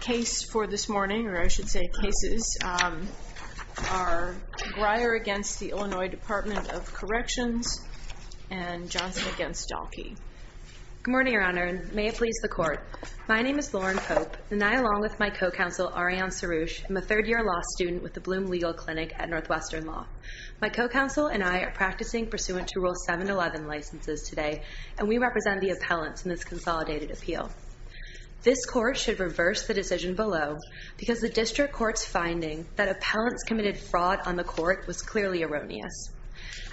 Case for this morning, or I should say cases, are Greyer against the Illinois Department of Corrections and Johnson against Dalkey. Good morning, Your Honor, and may it please the Court. My name is Lauren Pope, and I, along with my co-counsel, Ariane Saroosh, am a third year law student with the Bloom Legal Clinic at Northwestern Law. My co-counsel and I are practicing pursuant to Rule 711 licenses today, and we represent the appellants in this consolidated appeal. This court should reverse the decision below, because the district court's finding that appellants committed fraud on the court was clearly erroneous.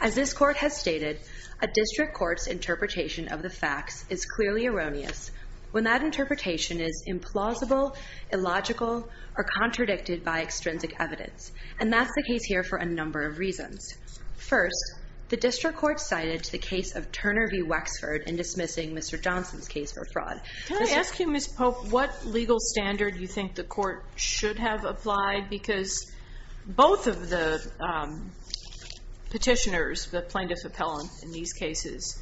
As this court has stated, a district court's interpretation of the facts is clearly erroneous when that interpretation is implausible, illogical, or contradicted by extrinsic evidence. And that's the case here for a number of reasons. First, the district court cited the case of Turner v. Wexford in dismissing Mr. Johnson's case for fraud. Can I ask you, Ms. Pope, what legal standard you think the court should have applied? Because both of the petitioners, the plaintiff appellant in these cases,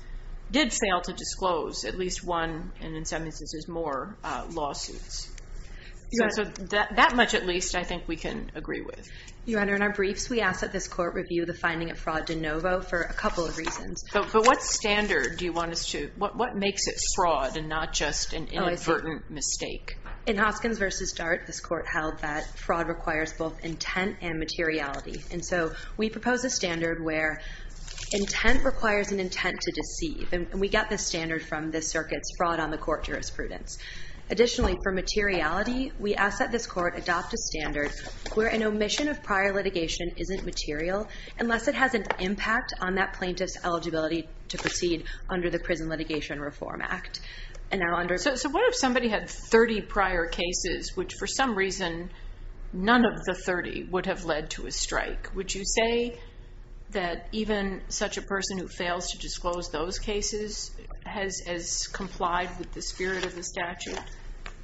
did fail to disclose at least one, and in some instances more, lawsuits. That much, at least, I think we can agree with. Your Honor, in our briefs, we ask that this court review the finding of fraud de novo for a couple of reasons. But what standard do you want us to, what makes it fraud and not just an inadvertent mistake? In Hoskins v. Dart, this court held that fraud requires both intent and materiality. And so we propose a standard where intent requires an intent to deceive. And we get this standard from this circuit's fraud on the court jurisprudence. Additionally, for materiality, we ask that this court adopt a standard where an omission of prior litigation isn't material unless it has an impact on that plaintiff's eligibility to proceed under the Prison Litigation Reform Act. And now under- So what if somebody had 30 prior cases, which for some reason, none of the 30 would have led to a strike? Would you say that even such a person who fails to disclose those cases has complied with the spirit of the statute?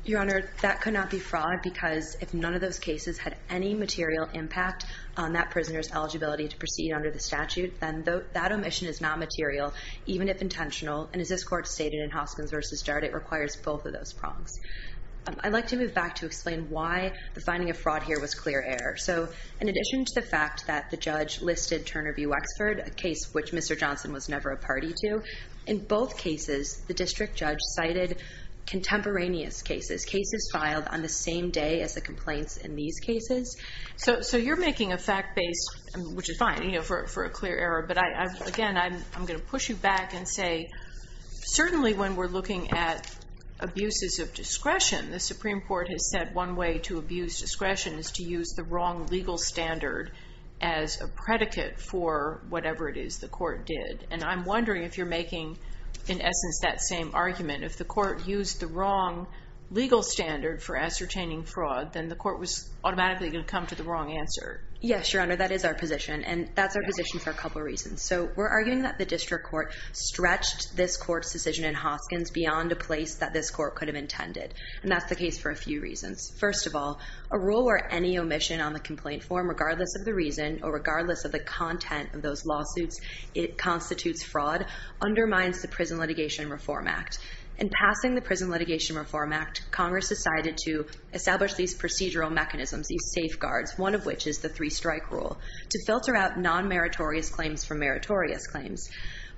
Your Honor, that could not be fraud because if none of those cases had any material impact on that prisoner's eligibility to proceed under the statute, then that omission is not material, even if intentional. And as this court stated in Hoskins v. Dart, it requires both of those prongs. I'd like to move back to explain why the finding of fraud here was clear error. So in addition to the fact that the judge listed Turner v. Wexford, a case which Mr. Johnson was never a party to, in both cases, the district judge cited contemporaneous cases, cases the same day as the complaints in these cases. So you're making a fact-based, which is fine for a clear error. But again, I'm going to push you back and say, certainly when we're looking at abuses of discretion, the Supreme Court has said one way to abuse discretion is to use the wrong legal standard as a predicate for whatever it is the court did. And I'm wondering if you're making, in essence, that same argument. If the court used the wrong legal standard for ascertaining fraud, then the court was automatically going to come to the wrong answer. Yes, Your Honor, that is our position. And that's our position for a couple of reasons. So we're arguing that the district court stretched this court's decision in Hoskins beyond a place that this court could have intended. And that's the case for a few reasons. First of all, a rule where any omission on the complaint form, regardless of the reason or regardless of the content of those lawsuits, it constitutes fraud, undermines the Prison Litigation Reform Act. In passing the Prison Litigation Reform Act, Congress decided to establish these procedural mechanisms, these safeguards, one of which is the three-strike rule, to filter out non-meritorious claims from meritorious claims.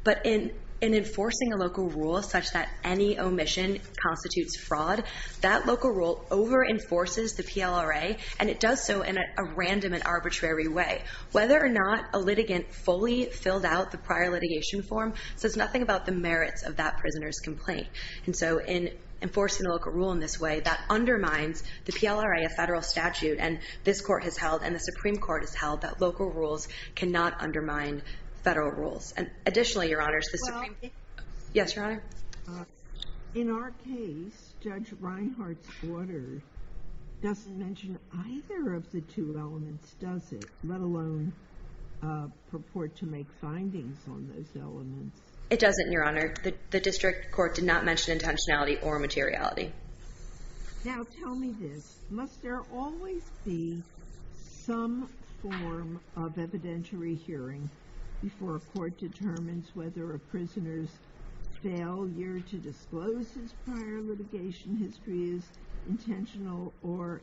But in enforcing a local rule such that any omission constitutes fraud, that local rule over-enforces the PLRA. And it does so in a random and arbitrary way. Whether or not a litigant fully filled out the prior litigation form says nothing about the merits of that prisoner's complaint. And so in enforcing a local rule in this way, that undermines the PLRA, a federal statute. And this court has held and the Supreme Court has held that local rules cannot undermine federal rules. And additionally, Your Honors, the Supreme Court. Yes, Your Honor? In our case, Judge Reinhart's order doesn't mention either of the two elements, does it? Let alone purport to make findings on those elements. It doesn't, Your Honor. The district court did not mention intentionality or materiality. Now, tell me this. Must there always be some form of evidentiary hearing before a court determines whether a prisoner's failure to disclose his prior litigation history is intentional or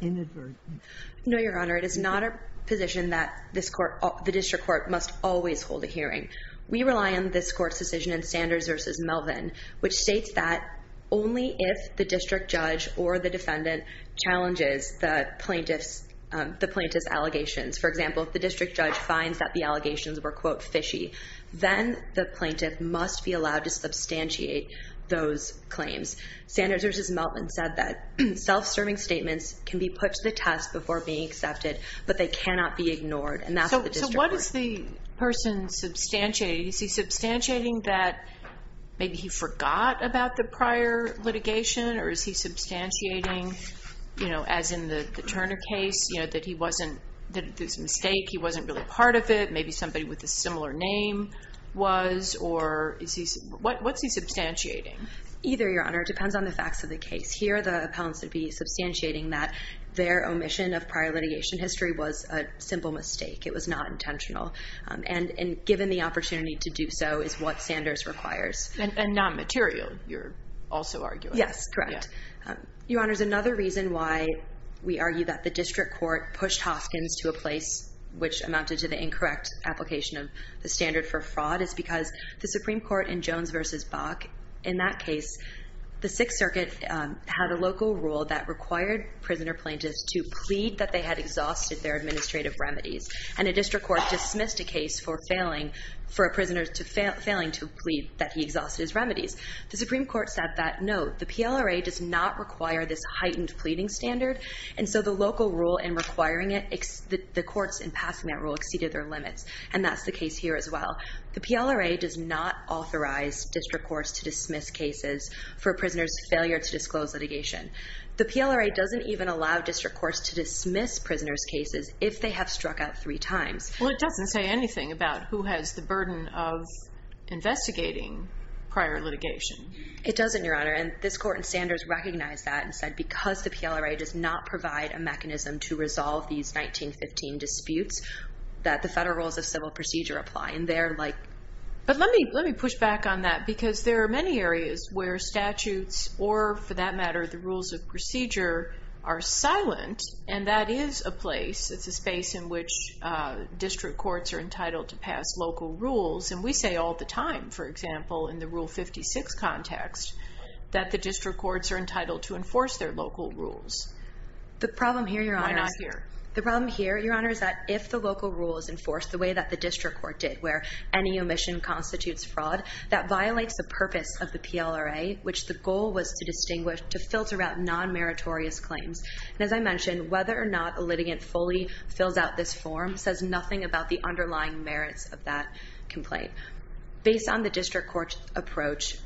inadvertent? No, Your Honor, it is not a position that the district court must always hold a hearing. We rely on this court's decision in Sanders versus Melvin, which states that only if the district judge or the defendant challenges the plaintiff's allegations. For example, if the district judge finds that the allegations were, quote, fishy, then the plaintiff must be allowed to substantiate those claims. Sanders versus Melvin said that self-serving statements can be put to the test before being accepted, but they cannot be ignored. And that's what the district court said. What's the person substantiating? Is he substantiating that maybe he forgot about the prior litigation, or is he substantiating, as in the Turner case, that he wasn't, that it was a mistake, he wasn't really part of it, maybe somebody with a similar name was, or is he, what's he substantiating? Either, Your Honor. It depends on the facts of the case. Here, the appellants would be substantiating that their omission of prior litigation history was a simple mistake. It was not intentional. And given the opportunity to do so is what Sanders requires. And non-material, you're also arguing. Yes, correct. Your Honor, another reason why we argue that the district court pushed Hoskins to a place which amounted to the incorrect application of the standard for fraud is because the Supreme Court in Jones versus Bach, in that case, the Sixth Circuit had a local rule that required prisoner plaintiffs to plead that they had exhausted their administrative remedies. And a district court dismissed a case for a prisoner failing to plead that he exhausted his remedies. The Supreme Court said that, no, the PLRA does not require this heightened pleading standard. And so the local rule in requiring it, the courts in passing that rule exceeded their limits. And that's the case here as well. The PLRA does not authorize district courts to dismiss cases for a prisoner's failure to disclose litigation. The PLRA doesn't even allow district courts to dismiss prisoners' cases if they have struck out three times. Well, it doesn't say anything about who has the burden of investigating prior litigation. It doesn't, Your Honor. And this court in Sanders recognized that and said, because the PLRA does not provide a mechanism to resolve these 1915 disputes, that the federal rules of civil procedure apply. And they're like, but let me push back on that. Because there are many areas where statutes or, for that matter, the rules of procedure are silent. And that is a place, it's a space in which district courts are entitled to pass local rules. And we say all the time, for example, in the Rule 56 context, that the district courts are entitled to enforce their local rules. The problem here, Your Honor, is that if the local rule is enforced the way that the district court did, where any omission constitutes fraud, that violates the purpose of the PLRA, which the goal was to distinguish, to filter out non-meritorious claims. And as I mentioned, whether or not a litigant fully fills out this form says nothing about the underlying merits of that complaint. Based on the district court's approach,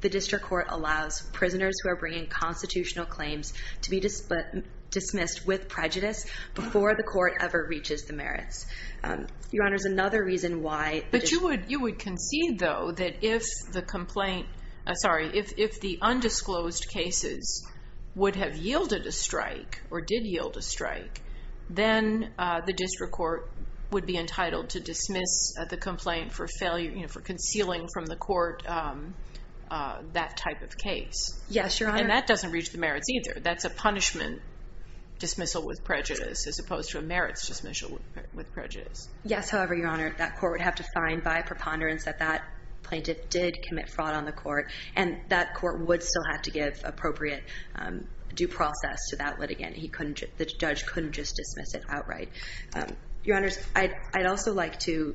the district court allows prisoners who are bringing constitutional claims to be dismissed with prejudice before the court ever reaches the merits. Your Honor, there's another reason why. But you would concede, though, that if the complaint, sorry, if the undisclosed cases would have yielded a strike or did yield a strike, then the district court would be entitled to dismiss the complaint for failure, for concealing from the court that type of case. Yes, Your Honor. And that doesn't reach the merits, either. That's a punishment dismissal with prejudice, as opposed to a merits dismissal with prejudice. Yes, however, Your Honor, that court would have to find by preponderance that that plaintiff did commit fraud on the court. And that court would still have to give appropriate due process to that litigant. The judge couldn't just dismiss it outright. Your Honors, I'd also like to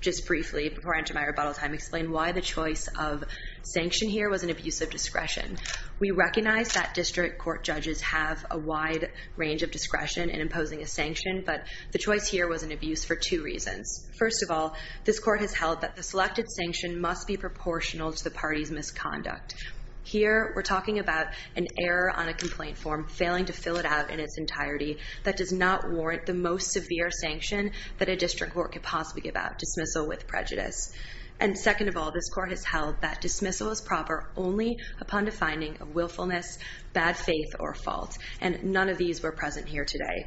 just briefly, before I enter my rebuttal time, explain why the choice of sanction here was an abuse of discretion. We recognize that district court judges have a wide range of discretion in imposing a sanction. But the choice here was an abuse for two reasons. First of all, this court has held that the selected sanction must be proportional to the party's misconduct. Here, we're talking about an error on a complaint form, failing to fill it out in its entirety, that does not warrant the most severe sanction that a district court could possibly give out, dismissal with prejudice. And second of all, this court has held that dismissal is proper only upon defining a willfulness, bad faith, or fault. And none of these were present here today.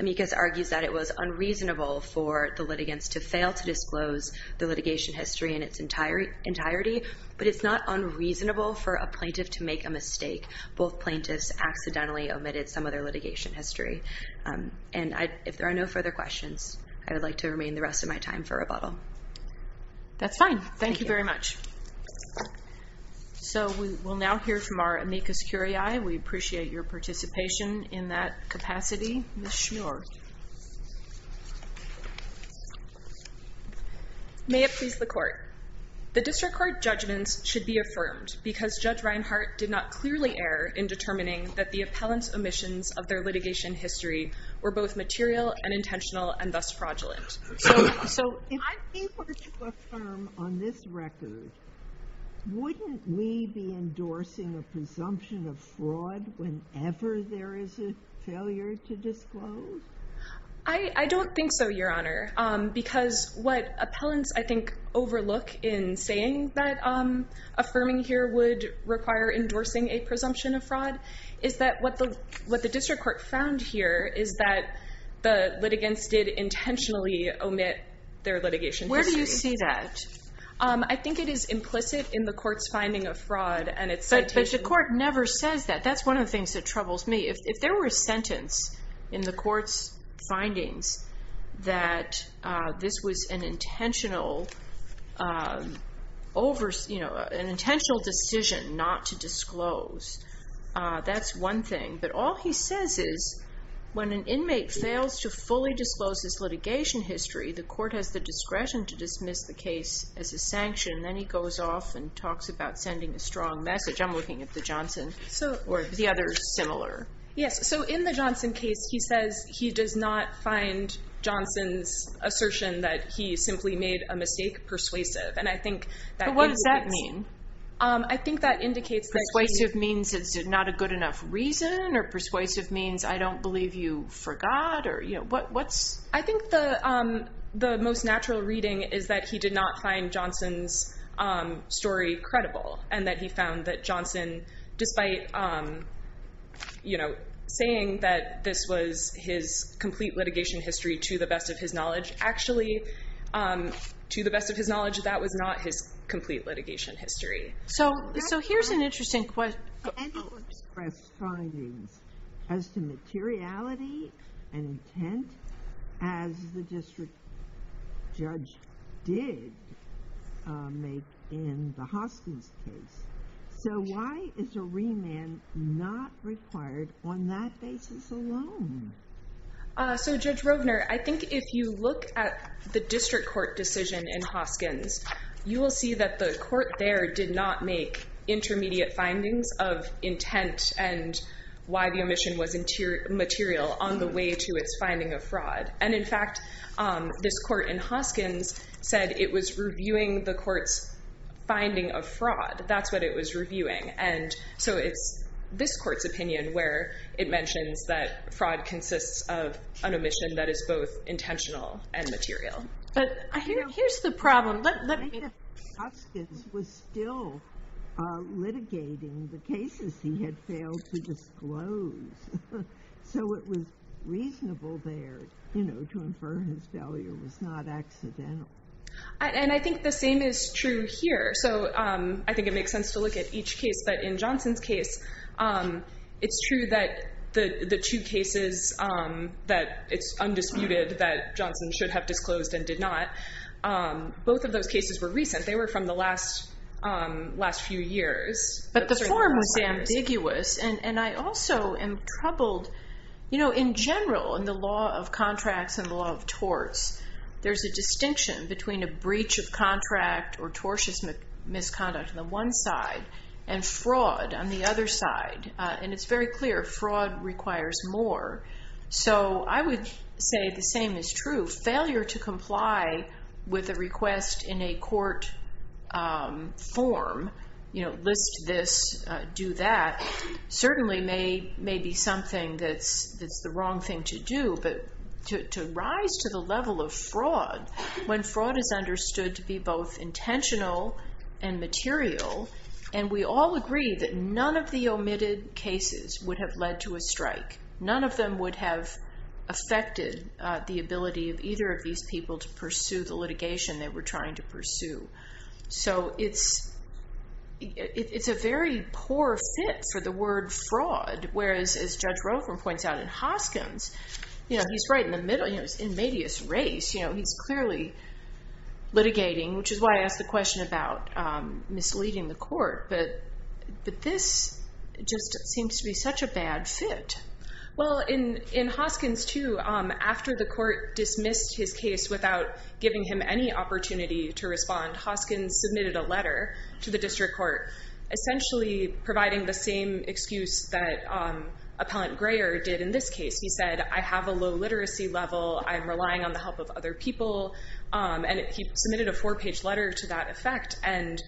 Amicus argues that it was unreasonable for the litigants to fail to disclose the litigation history in its entirety. But it's not unreasonable for a plaintiff to make a mistake. Both plaintiffs accidentally omitted some of their litigation history. And if there are no further questions, I would like to remain the rest of my time for rebuttal. That's fine. Thank you very much. So we will now hear from our Amicus Curiae. We appreciate your participation in that capacity. Ms. Schmuehrer. May it please the court. The district court judgments should be affirmed, because Judge Reinhart did not clearly err in determining that the appellant's omissions of their litigation history were both material and intentional and thus fraudulent. So if we were to affirm on this record, wouldn't we be endorsing a presumption of fraud whenever there is a failure to disclose? I don't think so, Your Honor, because what appellants, I think, overlook in saying that affirming here would require endorsing a presumption of fraud is that what the district court found here is that the litigants did intentionally omit their litigation history. Where do you see that? I think it is implicit in the court's finding of fraud, and it's citation. But the court never says that. That's one of the things that troubles me. If there were a sentence in the court's findings that this was an intentional decision not to disclose, that's one thing. But all he says is, when an inmate fails to fully disclose his litigation history, the court has the discretion to dismiss the case as a sanction. Then he goes off and talks about sending a strong message. I'm looking at the Johnson, or the others similar. Yes, so in the Johnson case, he says he does not find Johnson's assertion that he simply made a mistake persuasive. And I think that means that's. But what does that mean? I think that indicates that he. Persuasive means it's not a good enough reason, or persuasive means I don't believe you forgot, or what's? I think the most natural reading is that he did not find Johnson's story credible, and that he found that Johnson, despite saying that this was his complete litigation history, to the best of his knowledge. Actually, to the best of his knowledge, that was not his complete litigation history. So here's an interesting question. The panel expressed findings as to materiality and intent as the district judge did make in the Hoskins case. So why is a remand not required on that basis alone? So Judge Rovner, I think if you look at the district court decision in Hoskins, you will see that the court there did not make intermediate findings of intent and why the omission was material on the way to its finding of fraud. And in fact, this court in Hoskins said it was reviewing the court's finding of fraud. That's what it was reviewing. And so it's this court's opinion where it mentions that fraud consists of an omission that is both intentional and material. But here's the problem. Let me. I think if Hoskins was still litigating the cases he had failed to disclose, so it was reasonable there to infer his failure was not accidental. And I think the same is true here. So I think it makes sense to look at each case. But in Johnson's case, it's true that the two cases that it's undisputed that Johnson should have disclosed and did not, both of those cases were recent. They were from the last few years. But the form was ambiguous. And I also am troubled. In general, in the law of contracts and the law of torts, there's a distinction between a breach of contract or tortious misconduct on the one side and fraud on the other side. And it's very clear, fraud requires more. So I would say the same is true. Failure to comply with a request in a court form, list this, do that, certainly may be something that's the wrong thing to do. But to rise to the level of fraud when fraud is understood to be both intentional and material. And we all agree that none of the omitted cases would have led to a strike. None of them would have affected the ability of either of these people to pursue the litigation they were trying to pursue. So it's a very poor fit for the word fraud. Whereas, as Judge Rotherham points out in Hoskins, he's right in the middle. He's in medias res. He's clearly litigating, which is why I asked the question about misleading the court. But this just seems to be such a bad fit. Well, in Hoskins, too, after the court dismissed his case without giving him any opportunity to respond, Hoskins submitted a letter to the district court, essentially providing the same excuse that Appellant Greyer did in this case. He said, I have a low literacy level. I'm relying on the help of other people. And he submitted a four-page letter to that effect. And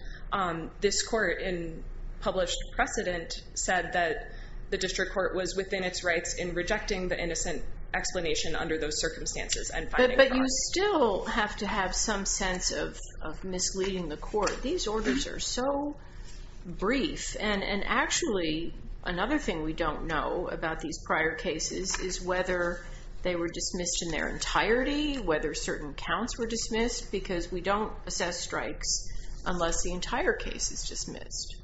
this court, in published precedent, said that the district court was within its rights in rejecting the innocent explanation under those circumstances. But you still have to have some sense of misleading the court. These orders are so brief. And actually, another thing we don't know about these prior cases is whether they were dismissed in their entirety, whether certain counts were dismissed, because we don't assess strikes unless the entire case is dismissed.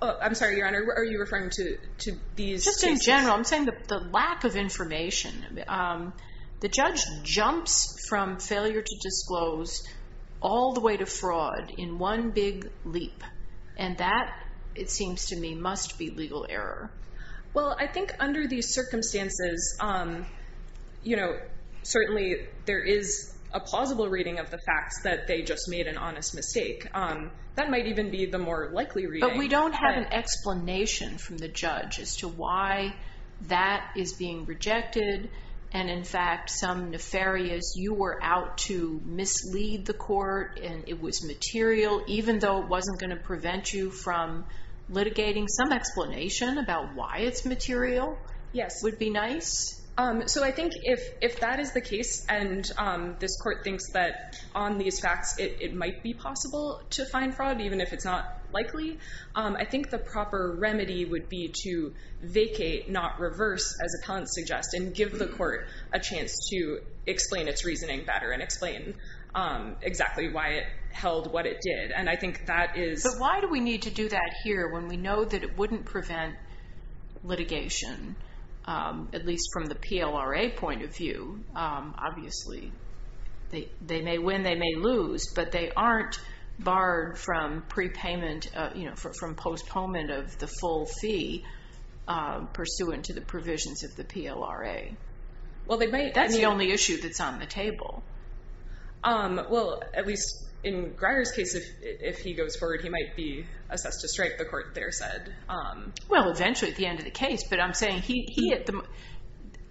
I'm sorry, Your Honor. Are you referring to these cases? Just in general. I'm saying the lack of information. The judge jumps from failure to disclose all the way to fraud in one big leap. And that, it seems to me, must be legal error. Well, I think under these circumstances, certainly, there is a plausible reading of the facts that they just made an honest mistake. That might even be the more likely reading. But we don't have an explanation from the judge as to why that is being rejected. And in fact, some nefarious, you were out to mislead the court, and it was material, even though it wasn't going to prevent you from litigating some explanation about why it's material. Yes. Would be nice. So I think if that is the case, and this court thinks that on these facts, it might be possible to find fraud, even if it's not likely, I think the proper remedy would be to vacate, not reverse, as appellants suggest, and give the court a chance to explain its reasoning better and explain exactly why it held what it did. And I think that is. But why do we need to do that here when we know that it wouldn't prevent litigation, at least from the PLRA point of view? Obviously, they may win, they may lose, but they aren't barred from pre-payment, from postponement of the full fee pursuant to the provisions of the PLRA. Well, they may. That's the only issue that's on the table. Well, at least in Greyer's case, if he goes forward, he might be assessed to strike, the court there said. Well, eventually, at the end of the case. But I'm saying,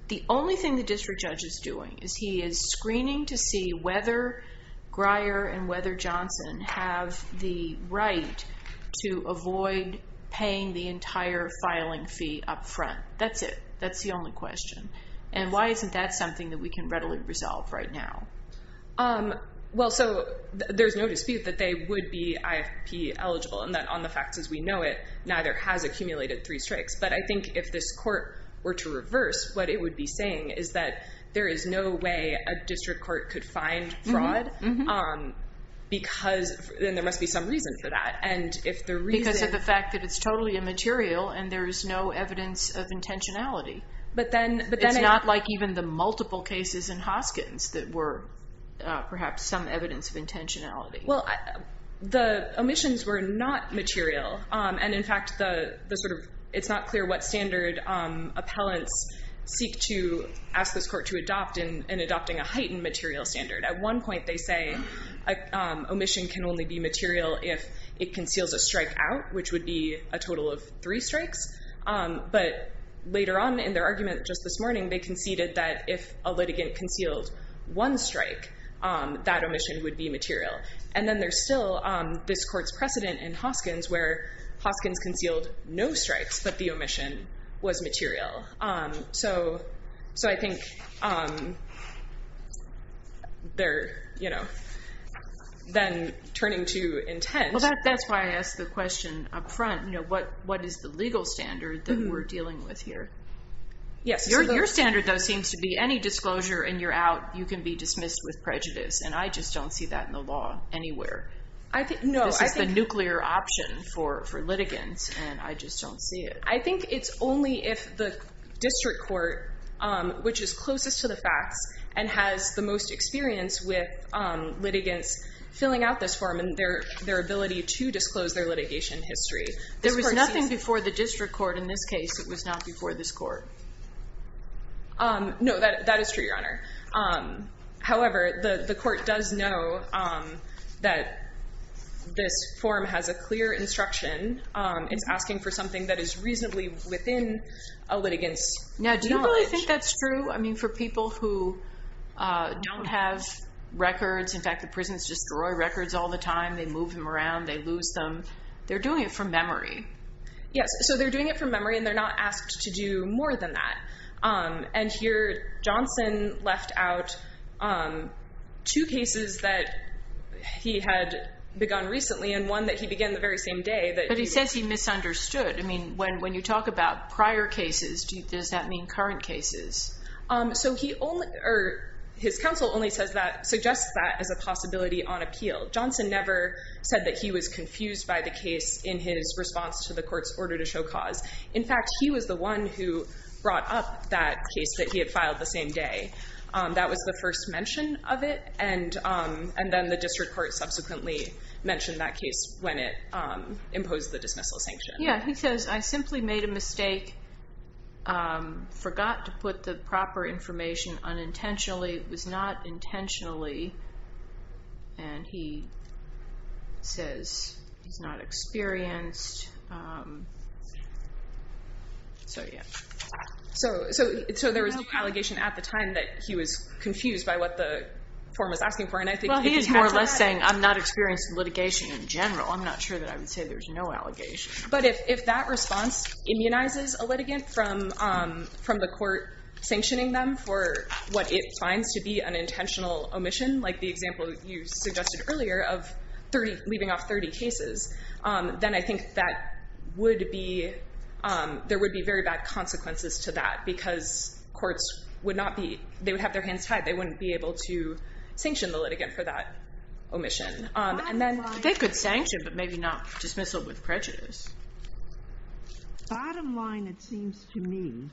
the only thing the district judge is doing is he is screening to see whether Greyer and whether Johnson have the right to avoid paying the entire filing fee up front. That's it. That's the only question. And why isn't that something that we can readily resolve right now? Well, so there's no dispute that they would be IFP eligible, and that on the facts as we know it, neither has accumulated three strikes. But I think if this court were to reverse, what it would be saying is that there is no way a district court could find fraud, because then there must be some reason for that. And if the reason is the fact that it's totally immaterial, and there is no evidence of intentionality. But then it's not like even the multiple cases in Hoskins that were perhaps some evidence of intentionality. Well, the omissions were not material. And in fact, it's not clear what standard appellants seek to ask this court to adopt in adopting a heightened material standard. At one point, they say omission can only be material if it conceals a strike out, which would be a total of three strikes. But later on in their argument just this morning, they conceded that if a litigant concealed one strike, that omission would be material. And then there's still this court's precedent in Hoskins where Hoskins concealed no strikes, but the omission was material. So I think they're then turning to intent. That's why I asked the question up front. What is the legal standard that we're dealing with here? Yes. Your standard, though, seems to be any disclosure and you're out, you can be dismissed with prejudice. And I just don't see that in the law anywhere. I think no. This is the nuclear option for litigants, and I just don't see it. I think it's only if the district court, which is closest to the facts and has the most experience with litigants filling out this form and their ability to disclose their litigation history. There was nothing before the district court in this case. No, that is true, Your Honor. However, the court does know that this form has a clear instruction. It's asking for something that is reasonably within a litigant's knowledge. Now, do you really think that's true? I mean, for people who don't have records, in fact, the prisons destroy records all the time. They move them around. They lose them. They're doing it from memory. Yes. So they're doing it from memory, and they're not asked to do more than that. And here, Johnson left out two cases that he had begun recently and one that he began the very same day. But he says he misunderstood. I mean, when you talk about prior cases, does that mean current cases? So his counsel only suggests that as a possibility on appeal. Johnson never said that he was confused by the case in his response to the court's order to show cause. In fact, he was the one who brought up that case that he had filed the same day. That was the first mention of it. And then the district court subsequently mentioned that case when it imposed the dismissal sanction. Yeah, he says, I simply made a mistake, forgot to put the proper information unintentionally. It was not intentionally. And he says he's not experienced. So there was no allegation at the time that he was confused by what the form was asking for. And I think he's more or less saying, I'm not experienced in litigation in general. I'm not sure that I would say there's no allegation. But if that response immunizes a litigant from the court sanctioning them for what it finds to be an intentional omission, like the example you suggested earlier of leaving off 30 cases, then I think there would be very bad consequences to that. Because courts would have their hands tied. They wouldn't be able to sanction the litigant for that omission. And then they could sanction, but maybe not dismissal with prejudice. The bottom line, it seems to me,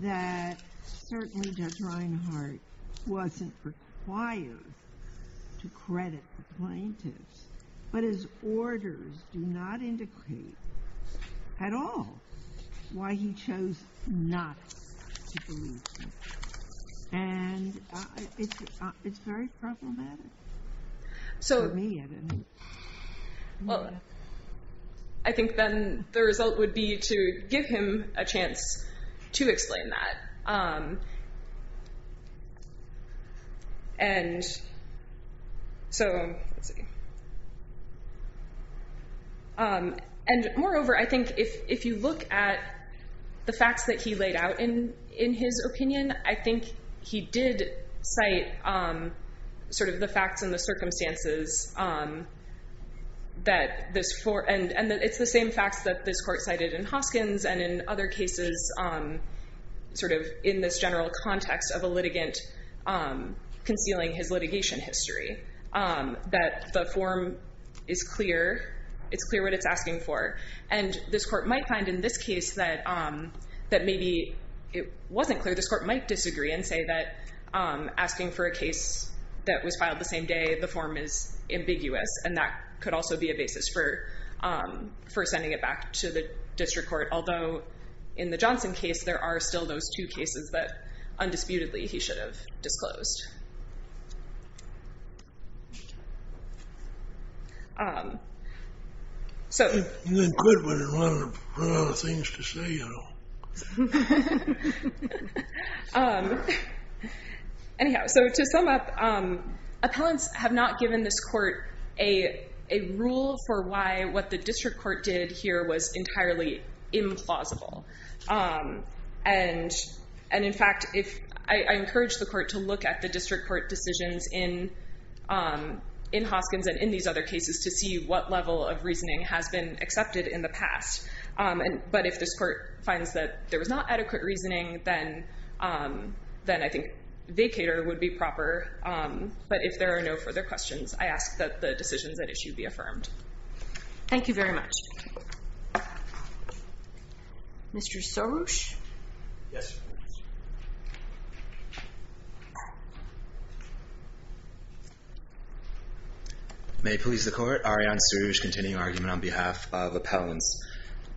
that certainly Judge Reinhart wasn't required to credit the plaintiffs. But his orders do not indicate at all why he chose not to believe him. And it's very problematic. So. For me, I don't know. Well, I think then the result would be to give him a chance to explain that. And so, let's see. And moreover, I think if you look at the facts that he laid out in his opinion, I think it's the same facts in the circumstances that this for, and it's the same facts that this court cited in Hoskins and in other cases in this general context of a litigant concealing his litigation history, that the form is clear. It's clear what it's asking for. And this court might find in this case that maybe it wasn't clear. This court might disagree and say that asking for a case that was filed the same day, the form is ambiguous. And that could also be a basis for sending it back to the district court. Although, in the Johnson case, there are still those two cases that, undisputedly, he should have disclosed. So. You didn't quit, but there's a lot of things to say, you know. So. Anyhow, so to sum up, appellants have not given this court a rule for why what the district court did here was entirely implausible. And in fact, I encourage the court to look at the district court decisions in Hoskins and in these other cases to see what level of reasoning has been accepted in the past. But if this court finds that there was not adequate reasoning, then I think vacater would be proper. But if there are no further questions, I ask that the decisions at issue be affirmed. Thank you very much. Mr. Soroush? Yes. May it please the court. Ariane Soroush, continuing argument on behalf of appellants.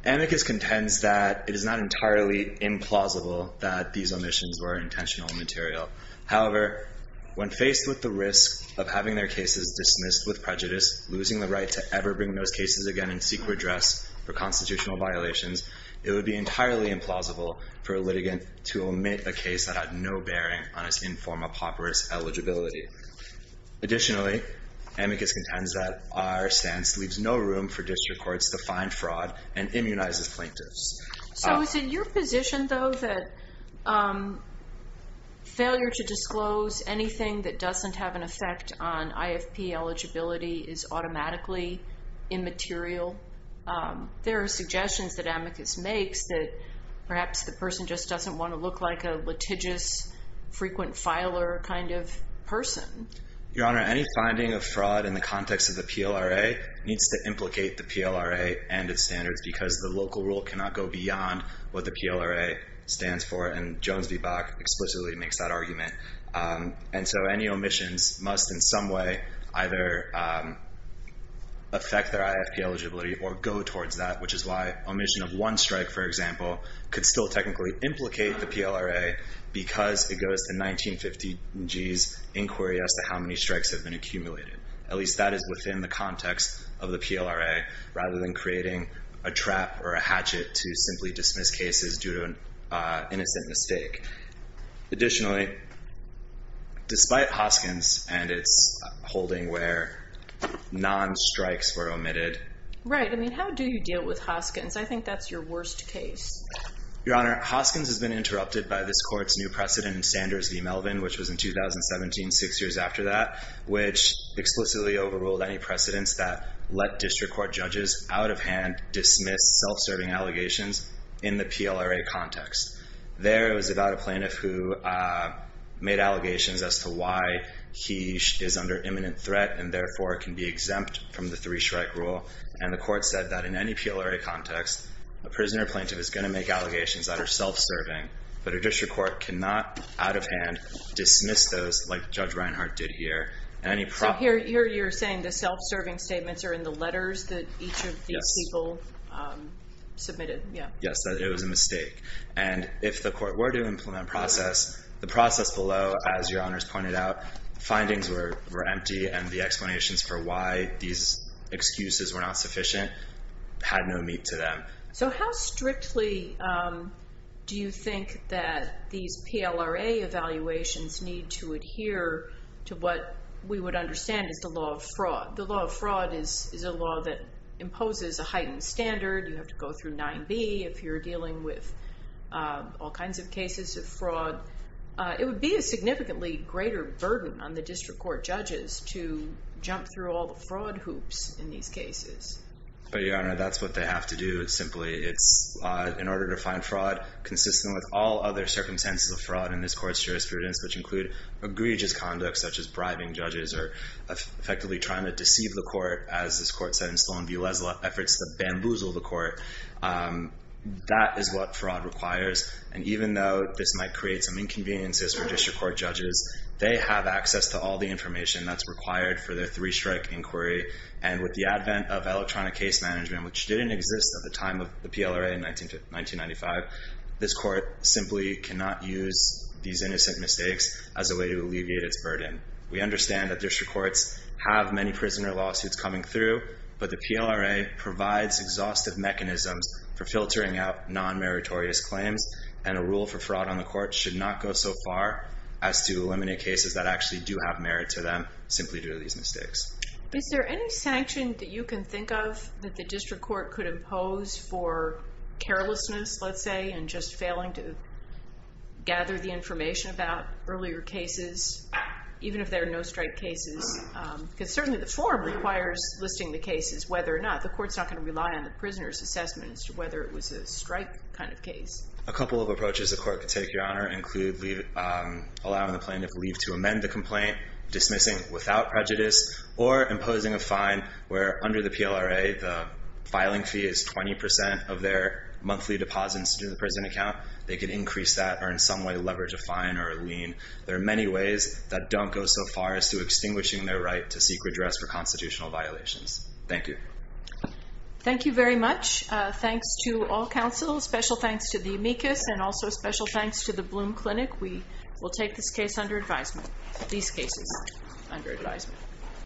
Amicus contends that it is not entirely implausible that these omissions were intentional and material. However, when faced with the risk of having their cases dismissed with prejudice, losing the right to ever bring those cases again and seek redress for constitutional violations, it would be entirely implausible for a litigant to omit a case that had no bearing on its inform apoperous eligibility. Additionally, Amicus contends that our stance leaves no room for district courts to find fraud and immunize the plaintiffs. So is it your position, though, that failure to disclose anything that doesn't have an effect on IFP eligibility is automatically immaterial? There are suggestions that Amicus makes that perhaps the person just doesn't want to look like a litigious, frequent filer kind of person. Your Honor, any finding of fraud in the context of the PLRA needs to implicate the PLRA and its standards because the local rule cannot go beyond what the PLRA stands for, and Jones v. Bach explicitly makes that argument. And so any omissions must in some way either affect their IFP eligibility or go towards that, which is why omission of one strike, for example, could still technically implicate the PLRA because it goes to 1950 G's inquiry as to how many strikes have been accumulated. At least that is within the context of the PLRA rather than creating a trap or a hatchet to simply dismiss cases due to an innocent mistake. Additionally, despite Hoskins and its holding where non-strikes were omitted. Right, I mean, how do you deal with Hoskins? I think that's your worst case. Your Honor, Hoskins has been interrupted by this court's new precedent in Sanders v. Melvin, which was in 2017, six years after that, which explicitly overruled any precedents that let district court judges out of hand dismiss self-serving allegations in the PLRA context. There it was about a plaintiff who made allegations as to why he is under imminent threat and therefore can be exempt from the three-strike rule. And the court said that in any PLRA context, a prisoner or plaintiff is going to make allegations that are self-serving. But a district court cannot, out of hand, dismiss those like Judge Reinhart did here. And any problems. So here you're saying the self-serving statements are in the letters that each of these people submitted? Yes, that it was a mistake. And if the court were to implement process, the process below, as your honors pointed out, findings were empty. And the explanations for why these excuses were not sufficient had no meat to them. So how strictly do you think that these PLRA evaluations need to adhere to what we would understand as the law of fraud? The law of fraud is a law that imposes a heightened standard. You have to go through 9b if you're dealing with all kinds of cases of fraud. It would be a significantly greater burden on the district court judges to jump through all the fraud hoops in these cases. But your honor, that's what they have to do simply. It's in order to find fraud consistent with all other circumstances of fraud in this court's jurisprudence, which include egregious conduct, such as bribing judges or effectively trying to deceive the court, as this court said in Sloan v. Leslie, efforts to bamboozle the court. That is what fraud requires. And even though this might create some inconveniences for district court judges, they have access to all the information that's required for their three strike inquiry. And with the advent of electronic case management, which didn't exist at the time of the PLRA in 1995, this court simply cannot use these innocent mistakes as a way to alleviate its burden. We understand that district courts have many prisoner lawsuits coming through. But the PLRA provides exhaustive mechanisms for filtering out non-meritorious claims. And a rule for fraud on the court should not go so far as to eliminate cases that actually do have merit to them, simply due to these mistakes. Is there any sanction that you can think of that the district court could impose for carelessness, let's say, and just failing to gather the information about earlier cases, even if there are no strike cases? Because certainly the form requires listing the cases, whether or not. The court's not going to rely on the prisoner's assessment as to whether it was a strike kind of case. A couple of approaches the court could take, Your Honor, include allowing the plaintiff leave to amend the complaint, dismissing without prejudice, or imposing a fine where under the PLRA, the filing fee is 20% of their monthly deposits to the prison account. They could increase that or in some way leverage a fine or a lien. There are many ways that don't go so far as to extinguishing their right to seek redress for constitutional violations. Thank you. Thank you very much. Thanks to all counsel. Special thanks to the amicus. And also special thanks to the Bloom Clinic. We will take this case under advisement. These cases under advisement.